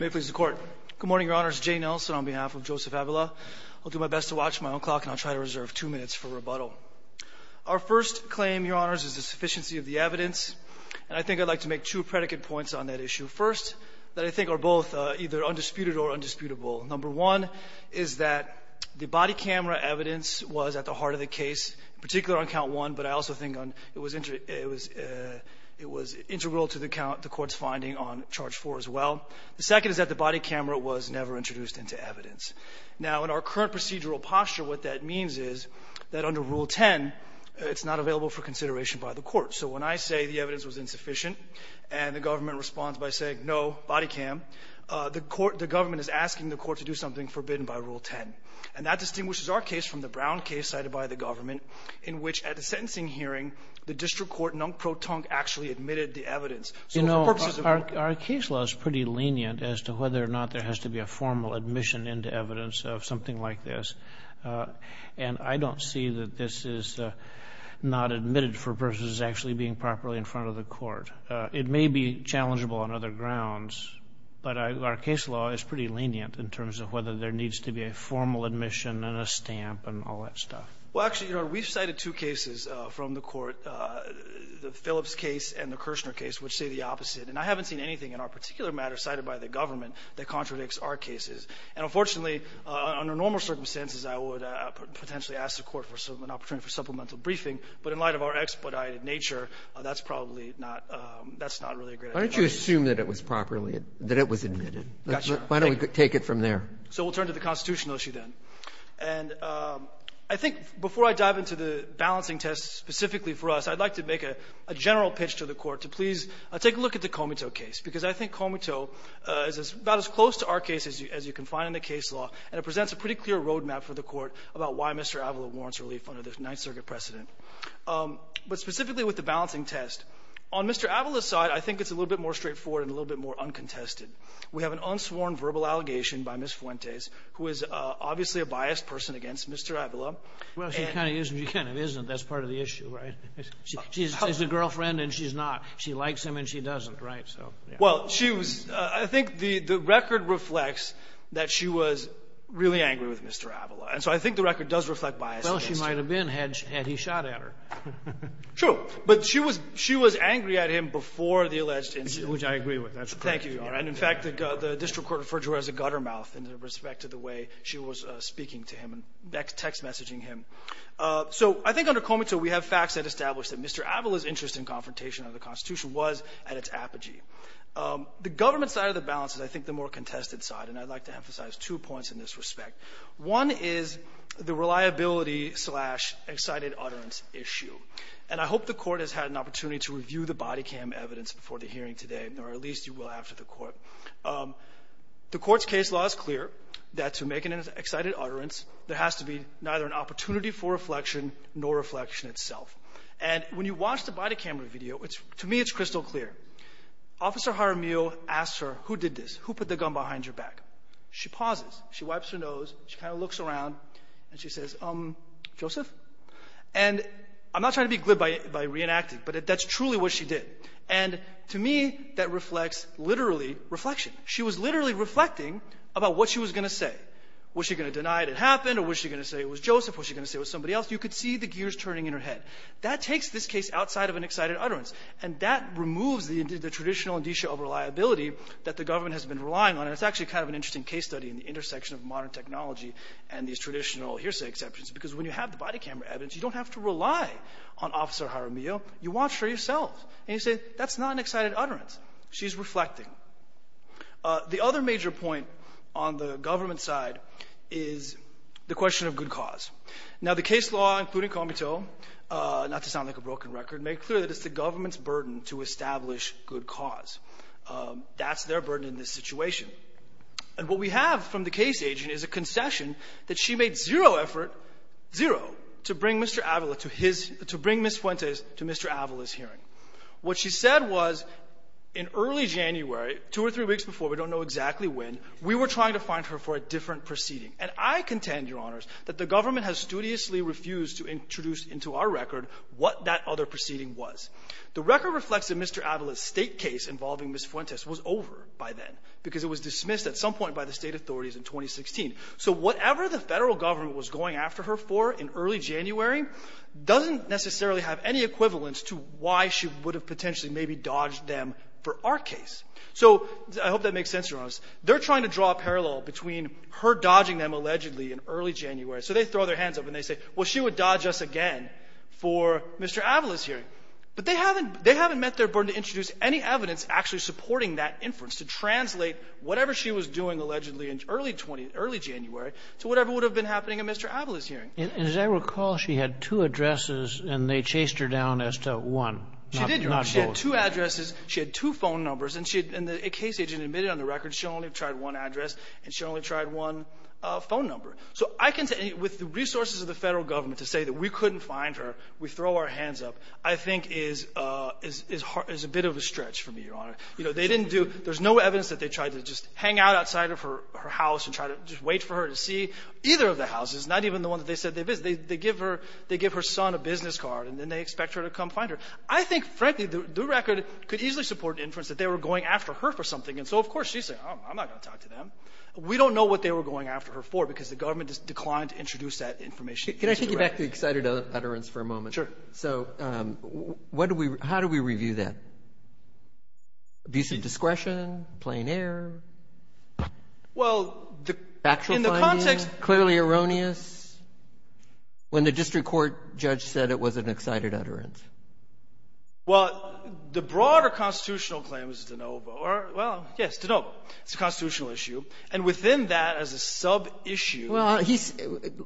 May it please the Court. Good morning, Your Honors. Jane Nelson on behalf of Joseph Avila. I'll do my best to watch my own clock, and I'll try to reserve two minutes for rebuttal. Our first claim, Your Honors, is the sufficiency of the evidence. And I think I'd like to make two predicate points on that issue. First, that I think are both either undisputed or undisputable. Number one is that the body camera evidence was at the heart of the case, particularly on Count 1, but I also think it was integral to the Court's finding on Charge 4 as well. The second is that the body camera was never introduced into evidence. Now, in our current procedural posture, what that means is that under Rule 10, it's not available for consideration by the Court. So when I say the evidence was insufficient, and the government responds by saying no, body cam, the Court the government is asking the Court to do something forbidden by Rule 10. And that distinguishes our case from the Brown case cited by the government, in which at the sentencing hearing, the district court, Nungpro Tung, actually admitted the evidence. You know, our case law is pretty lenient as to whether or not there has to be a formal admission into evidence of something like this. And I don't see that this is not admitted for purposes of actually being properly in front of the Court. It may be challengeable on other grounds, but our case law is pretty lenient in terms of whether there needs to be a formal admission and a stamp and all that stuff. Well, actually, Your Honor, we've cited two cases from the Brown case and the Kirshner case, which say the opposite. And I haven't seen anything in our particular matter cited by the government that contradicts our cases. And unfortunately, under normal circumstances, I would potentially ask the Court for an opportunity for supplemental briefing. But in light of our expedited nature, that's probably not, that's not really a great idea. Breyer. Why don't you assume that it was properly, that it was admitted? Why don't we take it from there? So we'll turn to the constitutional issue then. And I think before I dive into the please take a look at the Comito case, because I think Comito is about as close to our case as you can find in the case law, and it presents a pretty clear roadmap for the Court about why Mr. Avila warrants relief under the Ninth Circuit precedent. But specifically with the balancing test, on Mr. Avila's side, I think it's a little bit more straightforward and a little bit more uncontested. We have an unsworn verbal allegation by Ms. Fuentes, who is obviously a biased person against Mr. Avila. Well, she kind of is and she kind of isn't. That's part of the issue, right? She's a girlfriend and she's not. She likes him and she doesn't, right? So, yeah. Well, she was, I think the record reflects that she was really angry with Mr. Avila. And so I think the record does reflect bias against her. Well, she might have been had he shot at her. True. But she was angry at him before the alleged incident. Which I agree with. That's correct. Thank you, Your Honor. And in fact, the district court referred to her as a gutter mouth in respect to the way she was speaking to him and text messaging him. So I think under Comito, we have facts that establish that Mr. Avila's interest in confrontation under the Constitution was at its apogee. The government side of the balance is I think the more contested side, and I'd like to emphasize two points in this respect. One is the reliability-slash-excited-utterance issue. And I hope the Court has had an opportunity to review the body cam evidence before the hearing today, or at least you will after the Court. The Court's case law is clear that to make an excited utterance, there has to be neither an opportunity for reflection nor reflection itself. And when you watch the body camera video, to me it's crystal clear. Officer Jaramillo asks her, who did this? Who put the gun behind your back? She pauses. She wipes her nose. She kind of looks around. And she says, um, Joseph? And I'm not trying to be glib by reenacting, but that's truly what she did. And to me, that reflects literally reflection. She was literally reflecting about what she was going to say. Was she going to deny it had happened? Or was she going to say it was Joseph? Was she going to say it was somebody else? You could see the gears turning in her head. That takes this case outside of an excited utterance, and that removes the traditional indicia of reliability that the government has been relying on. And it's actually kind of an interesting case study in the intersection of modern technology and these traditional hearsay exceptions, because when you have the body camera evidence, you don't have to rely on Officer Jaramillo. You watch her yourself. And you say, that's not an excited utterance. She's reflecting. The other major point on the government side is the question of good cause. Now, the case law, including Comiteau, not to sound like a broken record, made clear that it's the government's burden to establish good cause. That's their burden in this situation. And what we have from the case agent is a concession that she made zero effort, zero, to bring Mr. Avila, to bring Ms. Fuentes to Mr. Avila's hearing. What she said was in early January, two or three weeks before, we don't know exactly when, we were trying to find her for a different proceeding. And I contend, Your Honors, that the government has studiously refused to introduce into our record what that other proceeding was. The record reflects that Mr. Avila's State case involving Ms. Fuentes was over by then because it was dismissed at some point by the State authorities in 2016. So whatever the Federal government was going after her for in early January doesn't necessarily have any equivalence to why she would have potentially maybe dodged them for our case. So I hope that makes sense, Your Honors. They're trying to draw a parallel between her dodging them allegedly in early January. So they throw their hands up and they say, well, she would dodge us again for Mr. Avila's hearing. But they haven't met their burden to introduce any evidence actually supporting that inference, to translate whatever she was doing allegedly in early January to whatever would have been happening in Mr. Avila's hearing. And as I recall, she had two addresses and they chased her down as to one, not both. She did, Your Honor. She had two addresses. She had two phone numbers. And the case agent admitted on the record she only tried one address and she only tried one phone number. So I contend with the resources of the Federal government to say that we couldn't find her, we throw our hands up, I think is a bit of a stretch for me, Your Honor. You know, they didn't do, there's no evidence that they tried to just hang out outside of her house and try to just wait for her to see either of the houses, not even the one that they said they visited. They give her, they give her son a business card and then they expect her to come find her. I think, frankly, the record could easily support inference that they were going after her for something. And so, of course, she's saying, I'm not going to talk to them. We don't know what they were going after her for because the government declined to introduce that information. Can I take you back to excited utterance for a moment? Sure. So what do we, how do we review that? Abusive discretion? Plain air? Well, in the context. Factual finding? Clearly erroneous? When the district court judge said it was an excited utterance? Well, the broader constitutional claim is de novo or, well, yes, de novo. It's a constitutional issue. And within that as a sub-issue. Well, he's,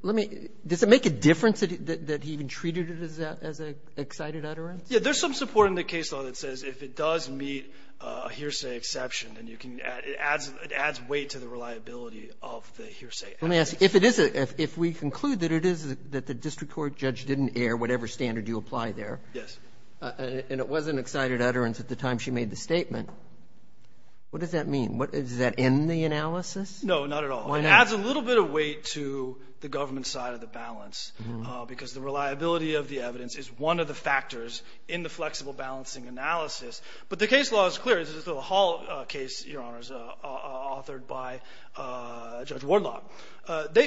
let me, does it make a difference that he even treated it as an excited utterance? Yeah, there's some support in the case law that says if it does meet a hearsay exception, then you can, it adds weight to the reliability of the hearsay. Let me ask you, if it is, if we conclude that it is, that the district court judge didn't air whatever standard you apply there. Yes. And it was an excited utterance at the time she made the statement, what does that mean? Does that end the analysis? No, not at all. It adds a little bit of weight to the government side of the balance because the reliability of the evidence is one of the factors in the flexible balancing analysis. But the case law is clear. This is the Hall case, Your Honors, authored by Judge Wardlock.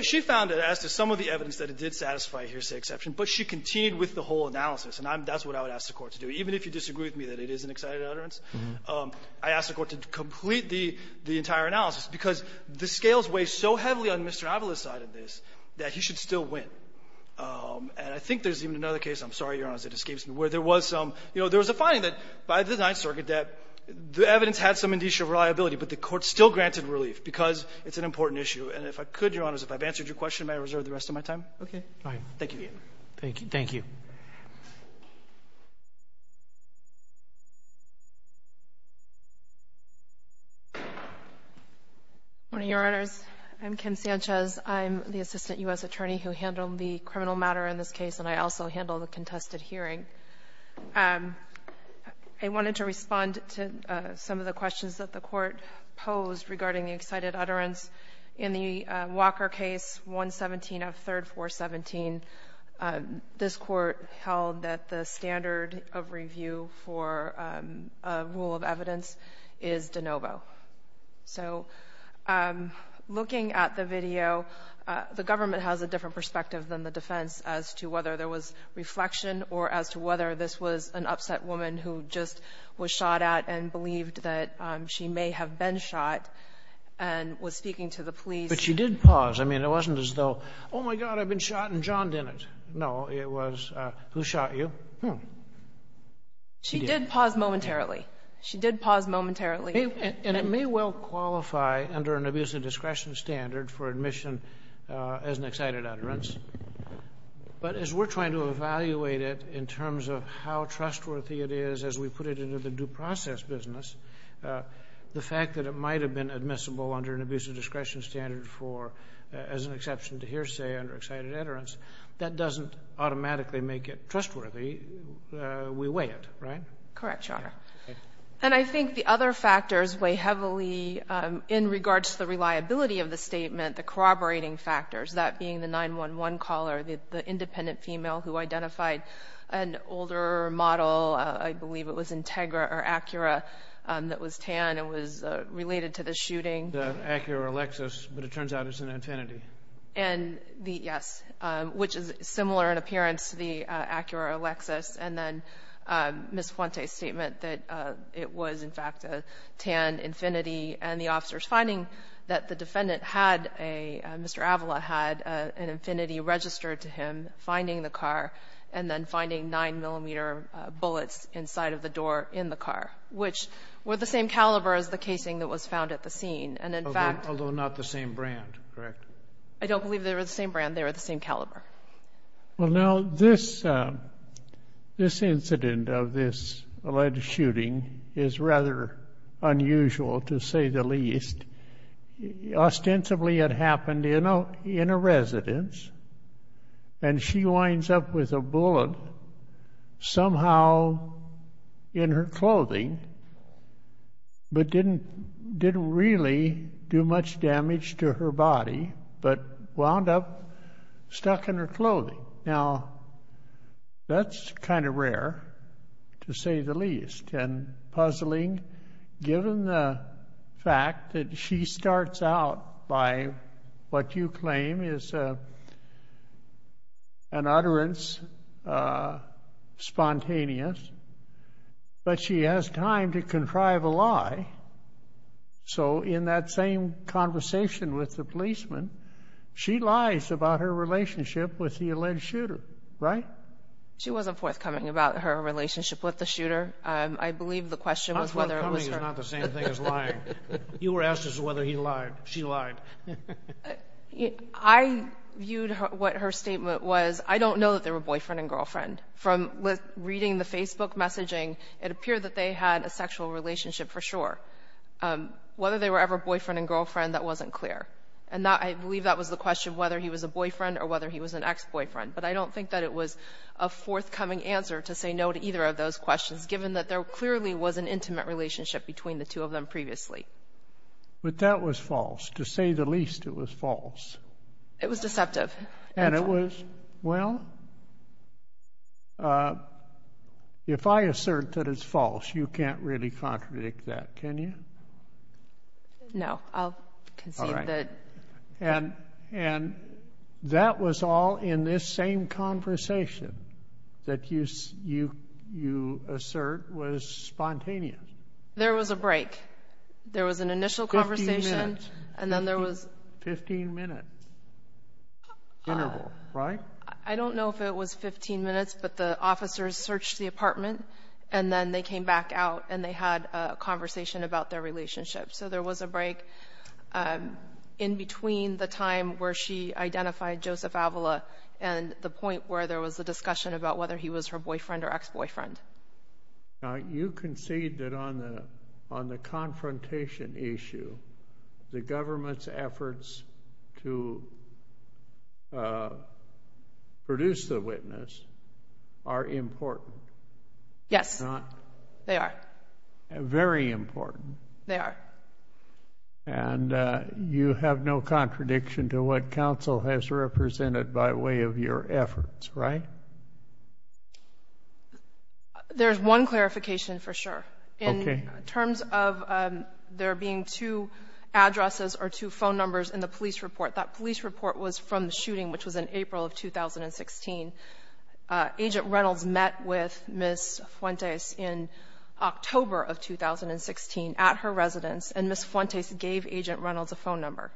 She found that as to some of the evidence that it did satisfy a hearsay exception, but she continued with the whole analysis. And that's what I would ask the Court to do. Even if you disagree with me that it is an excited utterance, I ask the Court to complete the entire analysis, because the scales weigh so heavily on Mr. Avila's side of this that he should still win. And I think there's even another case, I'm sorry, Your Honors, it escapes me, where there was some, you know, there was a finding that by the Ninth Circuit that the evidence had some indicia of reliability, but the Court still granted relief because it's an important issue. And if I could, Your Honors, if I've answered your question, may I reserve the rest of my time? Okay. Thank you. Thank you. Morning, Your Honors. I'm Kim Sanchez. I'm the Assistant U.S. Attorney who handled the criminal matter in this case, and I also handled the contested hearing. I wanted to respond to some of the questions that the Court posed regarding the excited utterance. In the Walker case, 117 of 3rd 417, this Court held that the standard of review for a rule of evidence is de novo. So looking at the video, the government has a different perspective than the defense as to whether there was reflection or as to whether this was an upset woman who just was shot at and believed that she may have been shot and was speaking to the police. But she did pause. I mean, it wasn't as though, oh, my God, I've been shot, and John didn't. No, it was, who shot you? She did. She paused momentarily. She did pause momentarily. And it may well qualify under an abuse of discretion standard for admission as an excited utterance, but as we're trying to evaluate it in terms of how trustworthy it is as we put it into the due process business, the fact that it might have been admissible under an abuse of discretion standard for, as an exception to hearsay, under excited utterance, that doesn't automatically make it trustworthy. We weigh it, right? Correct, Your Honor. And I think the other factors weigh heavily in regards to the reliability of the statement, the corroborating factors, that being the 911 caller, the independent female who identified an older model. I believe it was Integra or Acura that was tan and was related to the shooting. The Acura Alexis, but it turns out it's an Infinity. And the, yes, which is similar in appearance to the Acura Alexis. And then Ms. Fuente's statement that it was, in fact, a tan Infinity, and the officers finding that the defendant had a, Mr. Avila had an Infinity registered to him, finding the car, and then finding 9-millimeter bullets inside of the door in the car, which were the same caliber as the casing that was found at the scene. And in fact— Although not the same brand, correct? I don't believe they were the same brand. They were the same caliber. Well, now, this incident of this alleged shooting is rather unusual, to say the least. Ostensibly, it happened in a residence, and she winds up with a bullet somehow in her body, but wound up stuck in her clothing. Now, that's kind of rare, to say the least. And puzzling, given the fact that she starts out by what you claim is an utterance, spontaneous, but she has time to contrive a lie. So, in that same conversation with the policeman, she lies about her relationship with the alleged shooter, right? She wasn't forthcoming about her relationship with the shooter. I believe the question was whether it was her— Not forthcoming is not the same thing as lying. You were asking us whether he lied, she lied. I viewed what her statement was, I don't know that they were boyfriend and girlfriend. From reading the Facebook messaging, it appeared that they had a sexual relationship for sure. Whether they were ever boyfriend and girlfriend, that wasn't clear. And I believe that was the question, whether he was a boyfriend or whether he was an ex-boyfriend. But I don't think that it was a forthcoming answer to say no to either of those questions, given that there clearly was an intimate relationship between the two of them previously. But that was false. To say the least, it was false. It was deceptive. And it was—well, if I assert that it's false, you can't really contradict that, can you? No, I'll concede that— All right. And that was all in this same conversation that you assert was spontaneous. There was a break. Fifteen minutes. Fifteen-minute interval, right? I don't know if it was 15 minutes, but the officers searched the apartment, and then they came back out and they had a conversation about their relationship. So there was a break in between the time where she identified Joseph Avila and the point where there was a discussion about whether he was her boyfriend or ex-boyfriend. Now, you concede that on the confrontation issue, the government's efforts to produce the witness are important. Yes, they are. Very important. They are. And you have no contradiction to what counsel has represented by way of your efforts, right? There's one clarification for sure. Okay. In terms of there being two addresses or two phone numbers in the police report, that police report was from the shooting, which was in April of 2016. Agent Reynolds met with Ms. Fuentes in October of 2016 at her residence, and Ms. Fuentes gave Agent Reynolds a phone number.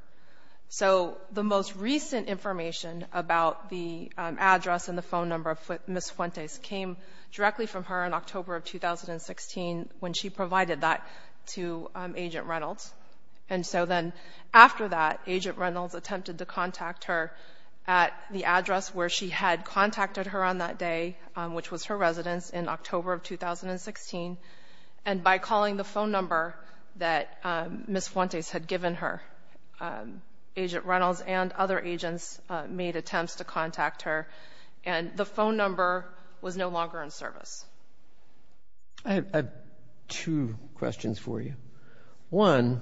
So the most recent information about the address and the phone number of Ms. Fuentes came directly from her in October of 2016 when she provided that to Agent Reynolds. And so then after that, Agent Reynolds attempted to contact her at the address where she had contacted her on that day, which was her residence, in October of 2016. And by calling the phone number that Ms. Fuentes had given her, Agent Reynolds and other agents made attempts to contact her. And the phone number was no longer in service. I have two questions for you. One,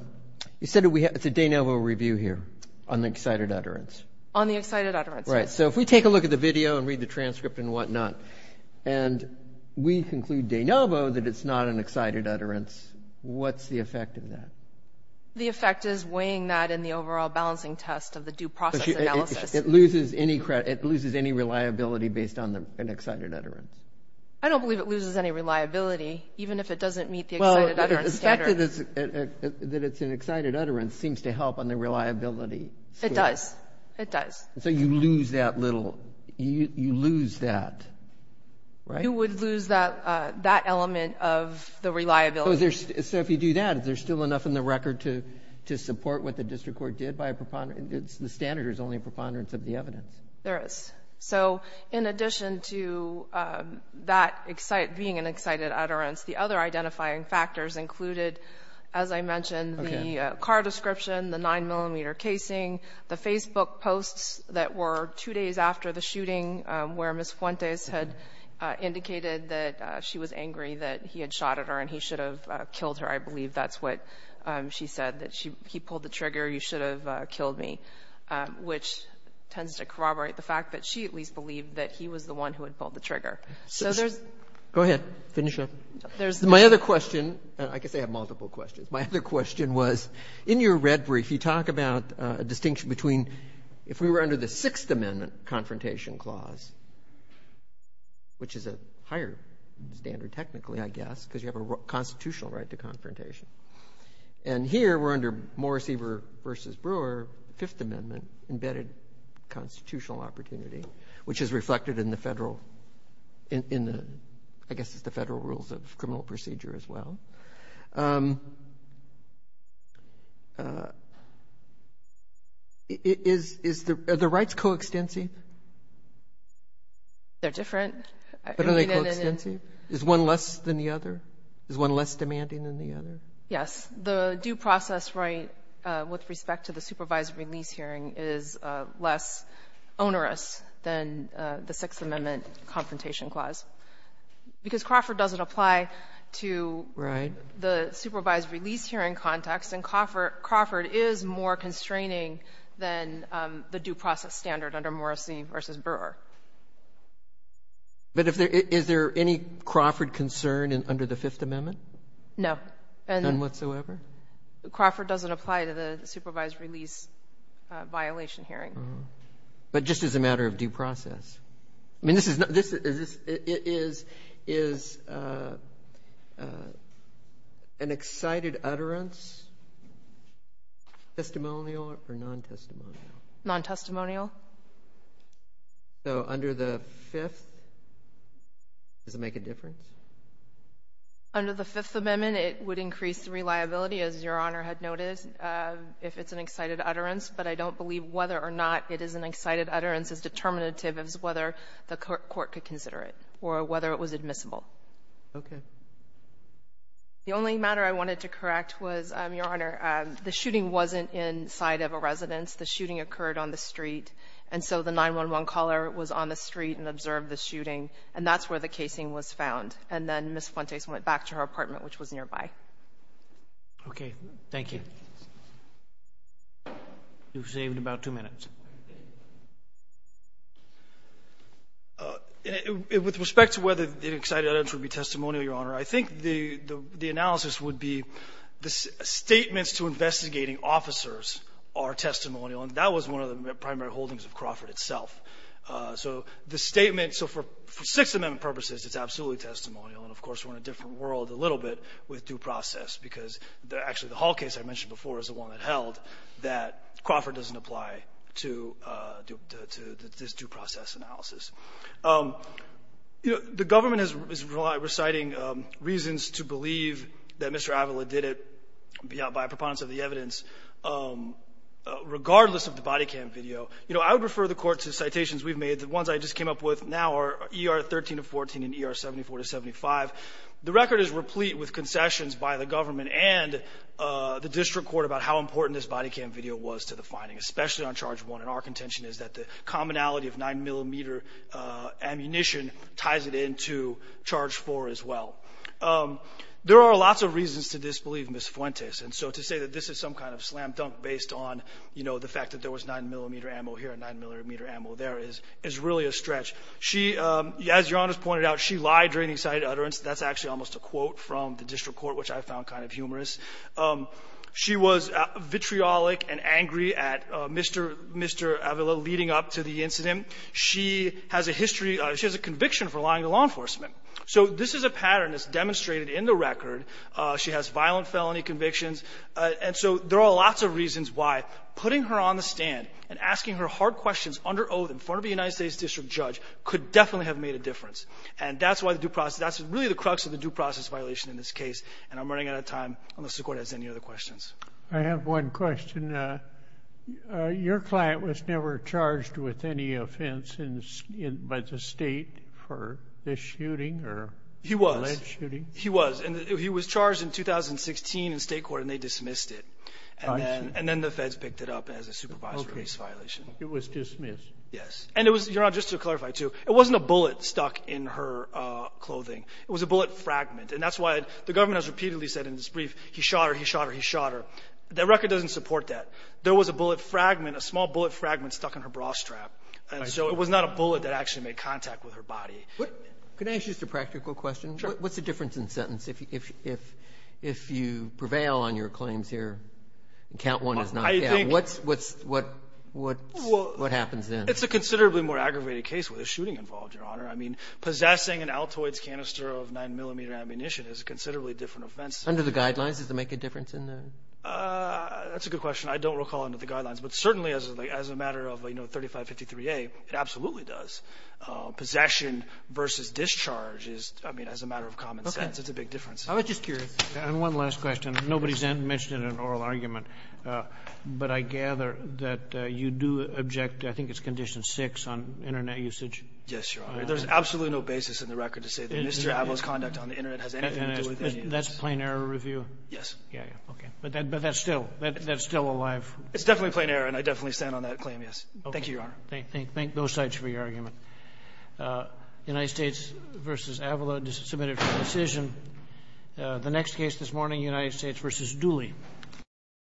you said it's a de novo review here on the excited utterance. On the excited utterance. Right. So if we take a look at the video and read the transcript and whatnot, and we conclude de novo that it's not an excited utterance, what's the effect of that? The effect is weighing that in the overall balancing test of the due process analysis. It loses any reliability based on an excited utterance. I don't believe it loses any reliability, even if it doesn't meet the excited utterance standard. Well, the fact that it's an excited utterance seems to help on the reliability. It does. It does. So you lose that little you lose that. You would lose that element of the reliability. So if you do that, is there still enough in the record to support what the district court did by a preponderance? The standard is only a preponderance of the evidence. There is. So in addition to that being an excited utterance, the other identifying factors included, as I mentioned, the car description, the 9-millimeter casing, the Facebook posts that were two days after the shooting where Ms. Fuentes had indicated that she was angry that he had shot at her and he should have killed her. I believe that's what she said, that he pulled the trigger, you should have killed me, which tends to corroborate the fact that she at least believed that he was the one who had pulled the trigger. Go ahead. Finish up. My other question, and I guess I have multiple questions, my other question was, in your red brief you talk about a distinction between if we were under the Sixth Amendment confrontation clause, which is a higher standard technically, I guess, because you have a constitutional right to confrontation. And here we're under Morris-Everett v. Brewer, Fifth Amendment-embedded constitutional opportunity, which is reflected in the federal rules of criminal procedure as well. Are the rights coextensive? They're different. But are they coextensive? Is one less than the other? Is one less demanding than the other? Yes. The due process right with respect to the supervised release hearing is less onerous than the Sixth Amendment confrontation clause, because Crawford doesn't apply to the supervised release hearing context. And Crawford is more constraining than the due process standard under Morris-Everett v. Brewer. But is there any Crawford concern under the Fifth Amendment? No. None whatsoever? Crawford doesn't apply to the supervised release violation hearing. But just as a matter of due process. I mean, is an excited utterance testimonial or non-testimonial? Non-testimonial. So under the Fifth, does it make a difference? Under the Fifth Amendment, it would increase reliability, as Your Honor had noted, if it's an excited utterance. But I don't believe whether or not it is an excited utterance is determinative as whether the court could consider it or whether it was admissible. Okay. The only matter I wanted to correct was, Your Honor, the shooting wasn't inside of a residence. The shooting occurred on the street. And so the 911 caller was on the street and observed the shooting. And that's where the casing was found. And then Ms. Fuentes went back to her apartment, which was nearby. Okay. Okay. Thank you. You've saved about two minutes. With respect to whether an excited utterance would be testimonial, Your Honor, I think the analysis would be the statements to investigating officers are testimonial. And that was one of the primary holdings of Crawford itself. So the statement so for Sixth Amendment purposes, it's absolutely testimonial. And, of course, we're in a different world a little bit with due process because actually the Hall case I mentioned before is the one that held that Crawford doesn't apply to this due process analysis. The government is reciting reasons to believe that Mr. Avila did it by preponderance of the evidence, regardless of the body cam video. I would refer the Court to citations we've made. The ones I just came up with now are ER 13 to 14 and ER 74 to 75. The record is replete with concessions by the government and the district court about how important this body cam video was to the finding, especially on Charge 1. And our contention is that the commonality of 9-millimeter ammunition ties it into Charge 4 as well. There are lots of reasons to disbelieve Ms. Fuentes. And so to say that this is some kind of slam-dunk based on, you know, the fact that there was 9-millimeter ammo here and 9-millimeter ammo there is really a stretch. She, as Your Honor's pointed out, she lied during the excited utterance. That's actually almost a quote from the district court, which I found kind of humorous. She was vitriolic and angry at Mr. Avila leading up to the incident. She has a history of ‑‑ she has a conviction for lying to law enforcement. So this is a pattern that's demonstrated in the record. She has violent felony convictions. And so there are lots of reasons why putting her on the stand and asking her hard questions under oath in front of a United States district judge could definitely have made a difference. And that's why the due process ‑‑ that's really the crux of the due process violation in this case. And I'm running out of time unless the court has any other questions. I have one question. Your client was never charged with any offense by the state for this shooting or alleged shooting? He was. And he was charged in 2016 in state court, and they dismissed it. I see. And then the feds picked it up as a supervisory case violation. Okay. It was dismissed. Yes. And it was, Your Honor, just to clarify, too, it wasn't a bullet stuck in her clothing. It was a bullet fragment. And that's why the government has repeatedly said in this brief, he shot her, he shot her, he shot her. The record doesn't support that. There was a bullet fragment, a small bullet fragment stuck in her bra strap. I see. And so it was not a bullet that actually made contact with her body. Can I ask just a practical question? Sure. What's the difference in sentence if you prevail on your claims here and count one is not count? What happens then? It's a considerably more aggravated case with a shooting involved, Your Honor. I mean, possessing an Altoids canister of 9-millimeter ammunition is a considerably different offense. Under the guidelines, does it make a difference in the ---- That's a good question. I don't recall under the guidelines. But certainly as a matter of, you know, 3553A, it absolutely does. Possession versus discharge is, I mean, as a matter of common sense. Okay. It's a big difference. I was just curious. And one last question. Nobody's mentioned it in an oral argument. But I gather that you do object, I think it's Condition 6, on Internet usage. Yes, Your Honor. There's absolutely no basis in the record to say that Mr. Avo's conduct on the Internet has anything to do with any of this. That's plain error review? Yes. Yeah, yeah. Okay. But that's still alive. It's definitely plain error, and I definitely stand on that claim, yes. Thank you, Your Honor. Thank both sides for your argument. United States v. Avala, submitted for decision. The next case this morning, United States v. Dooley.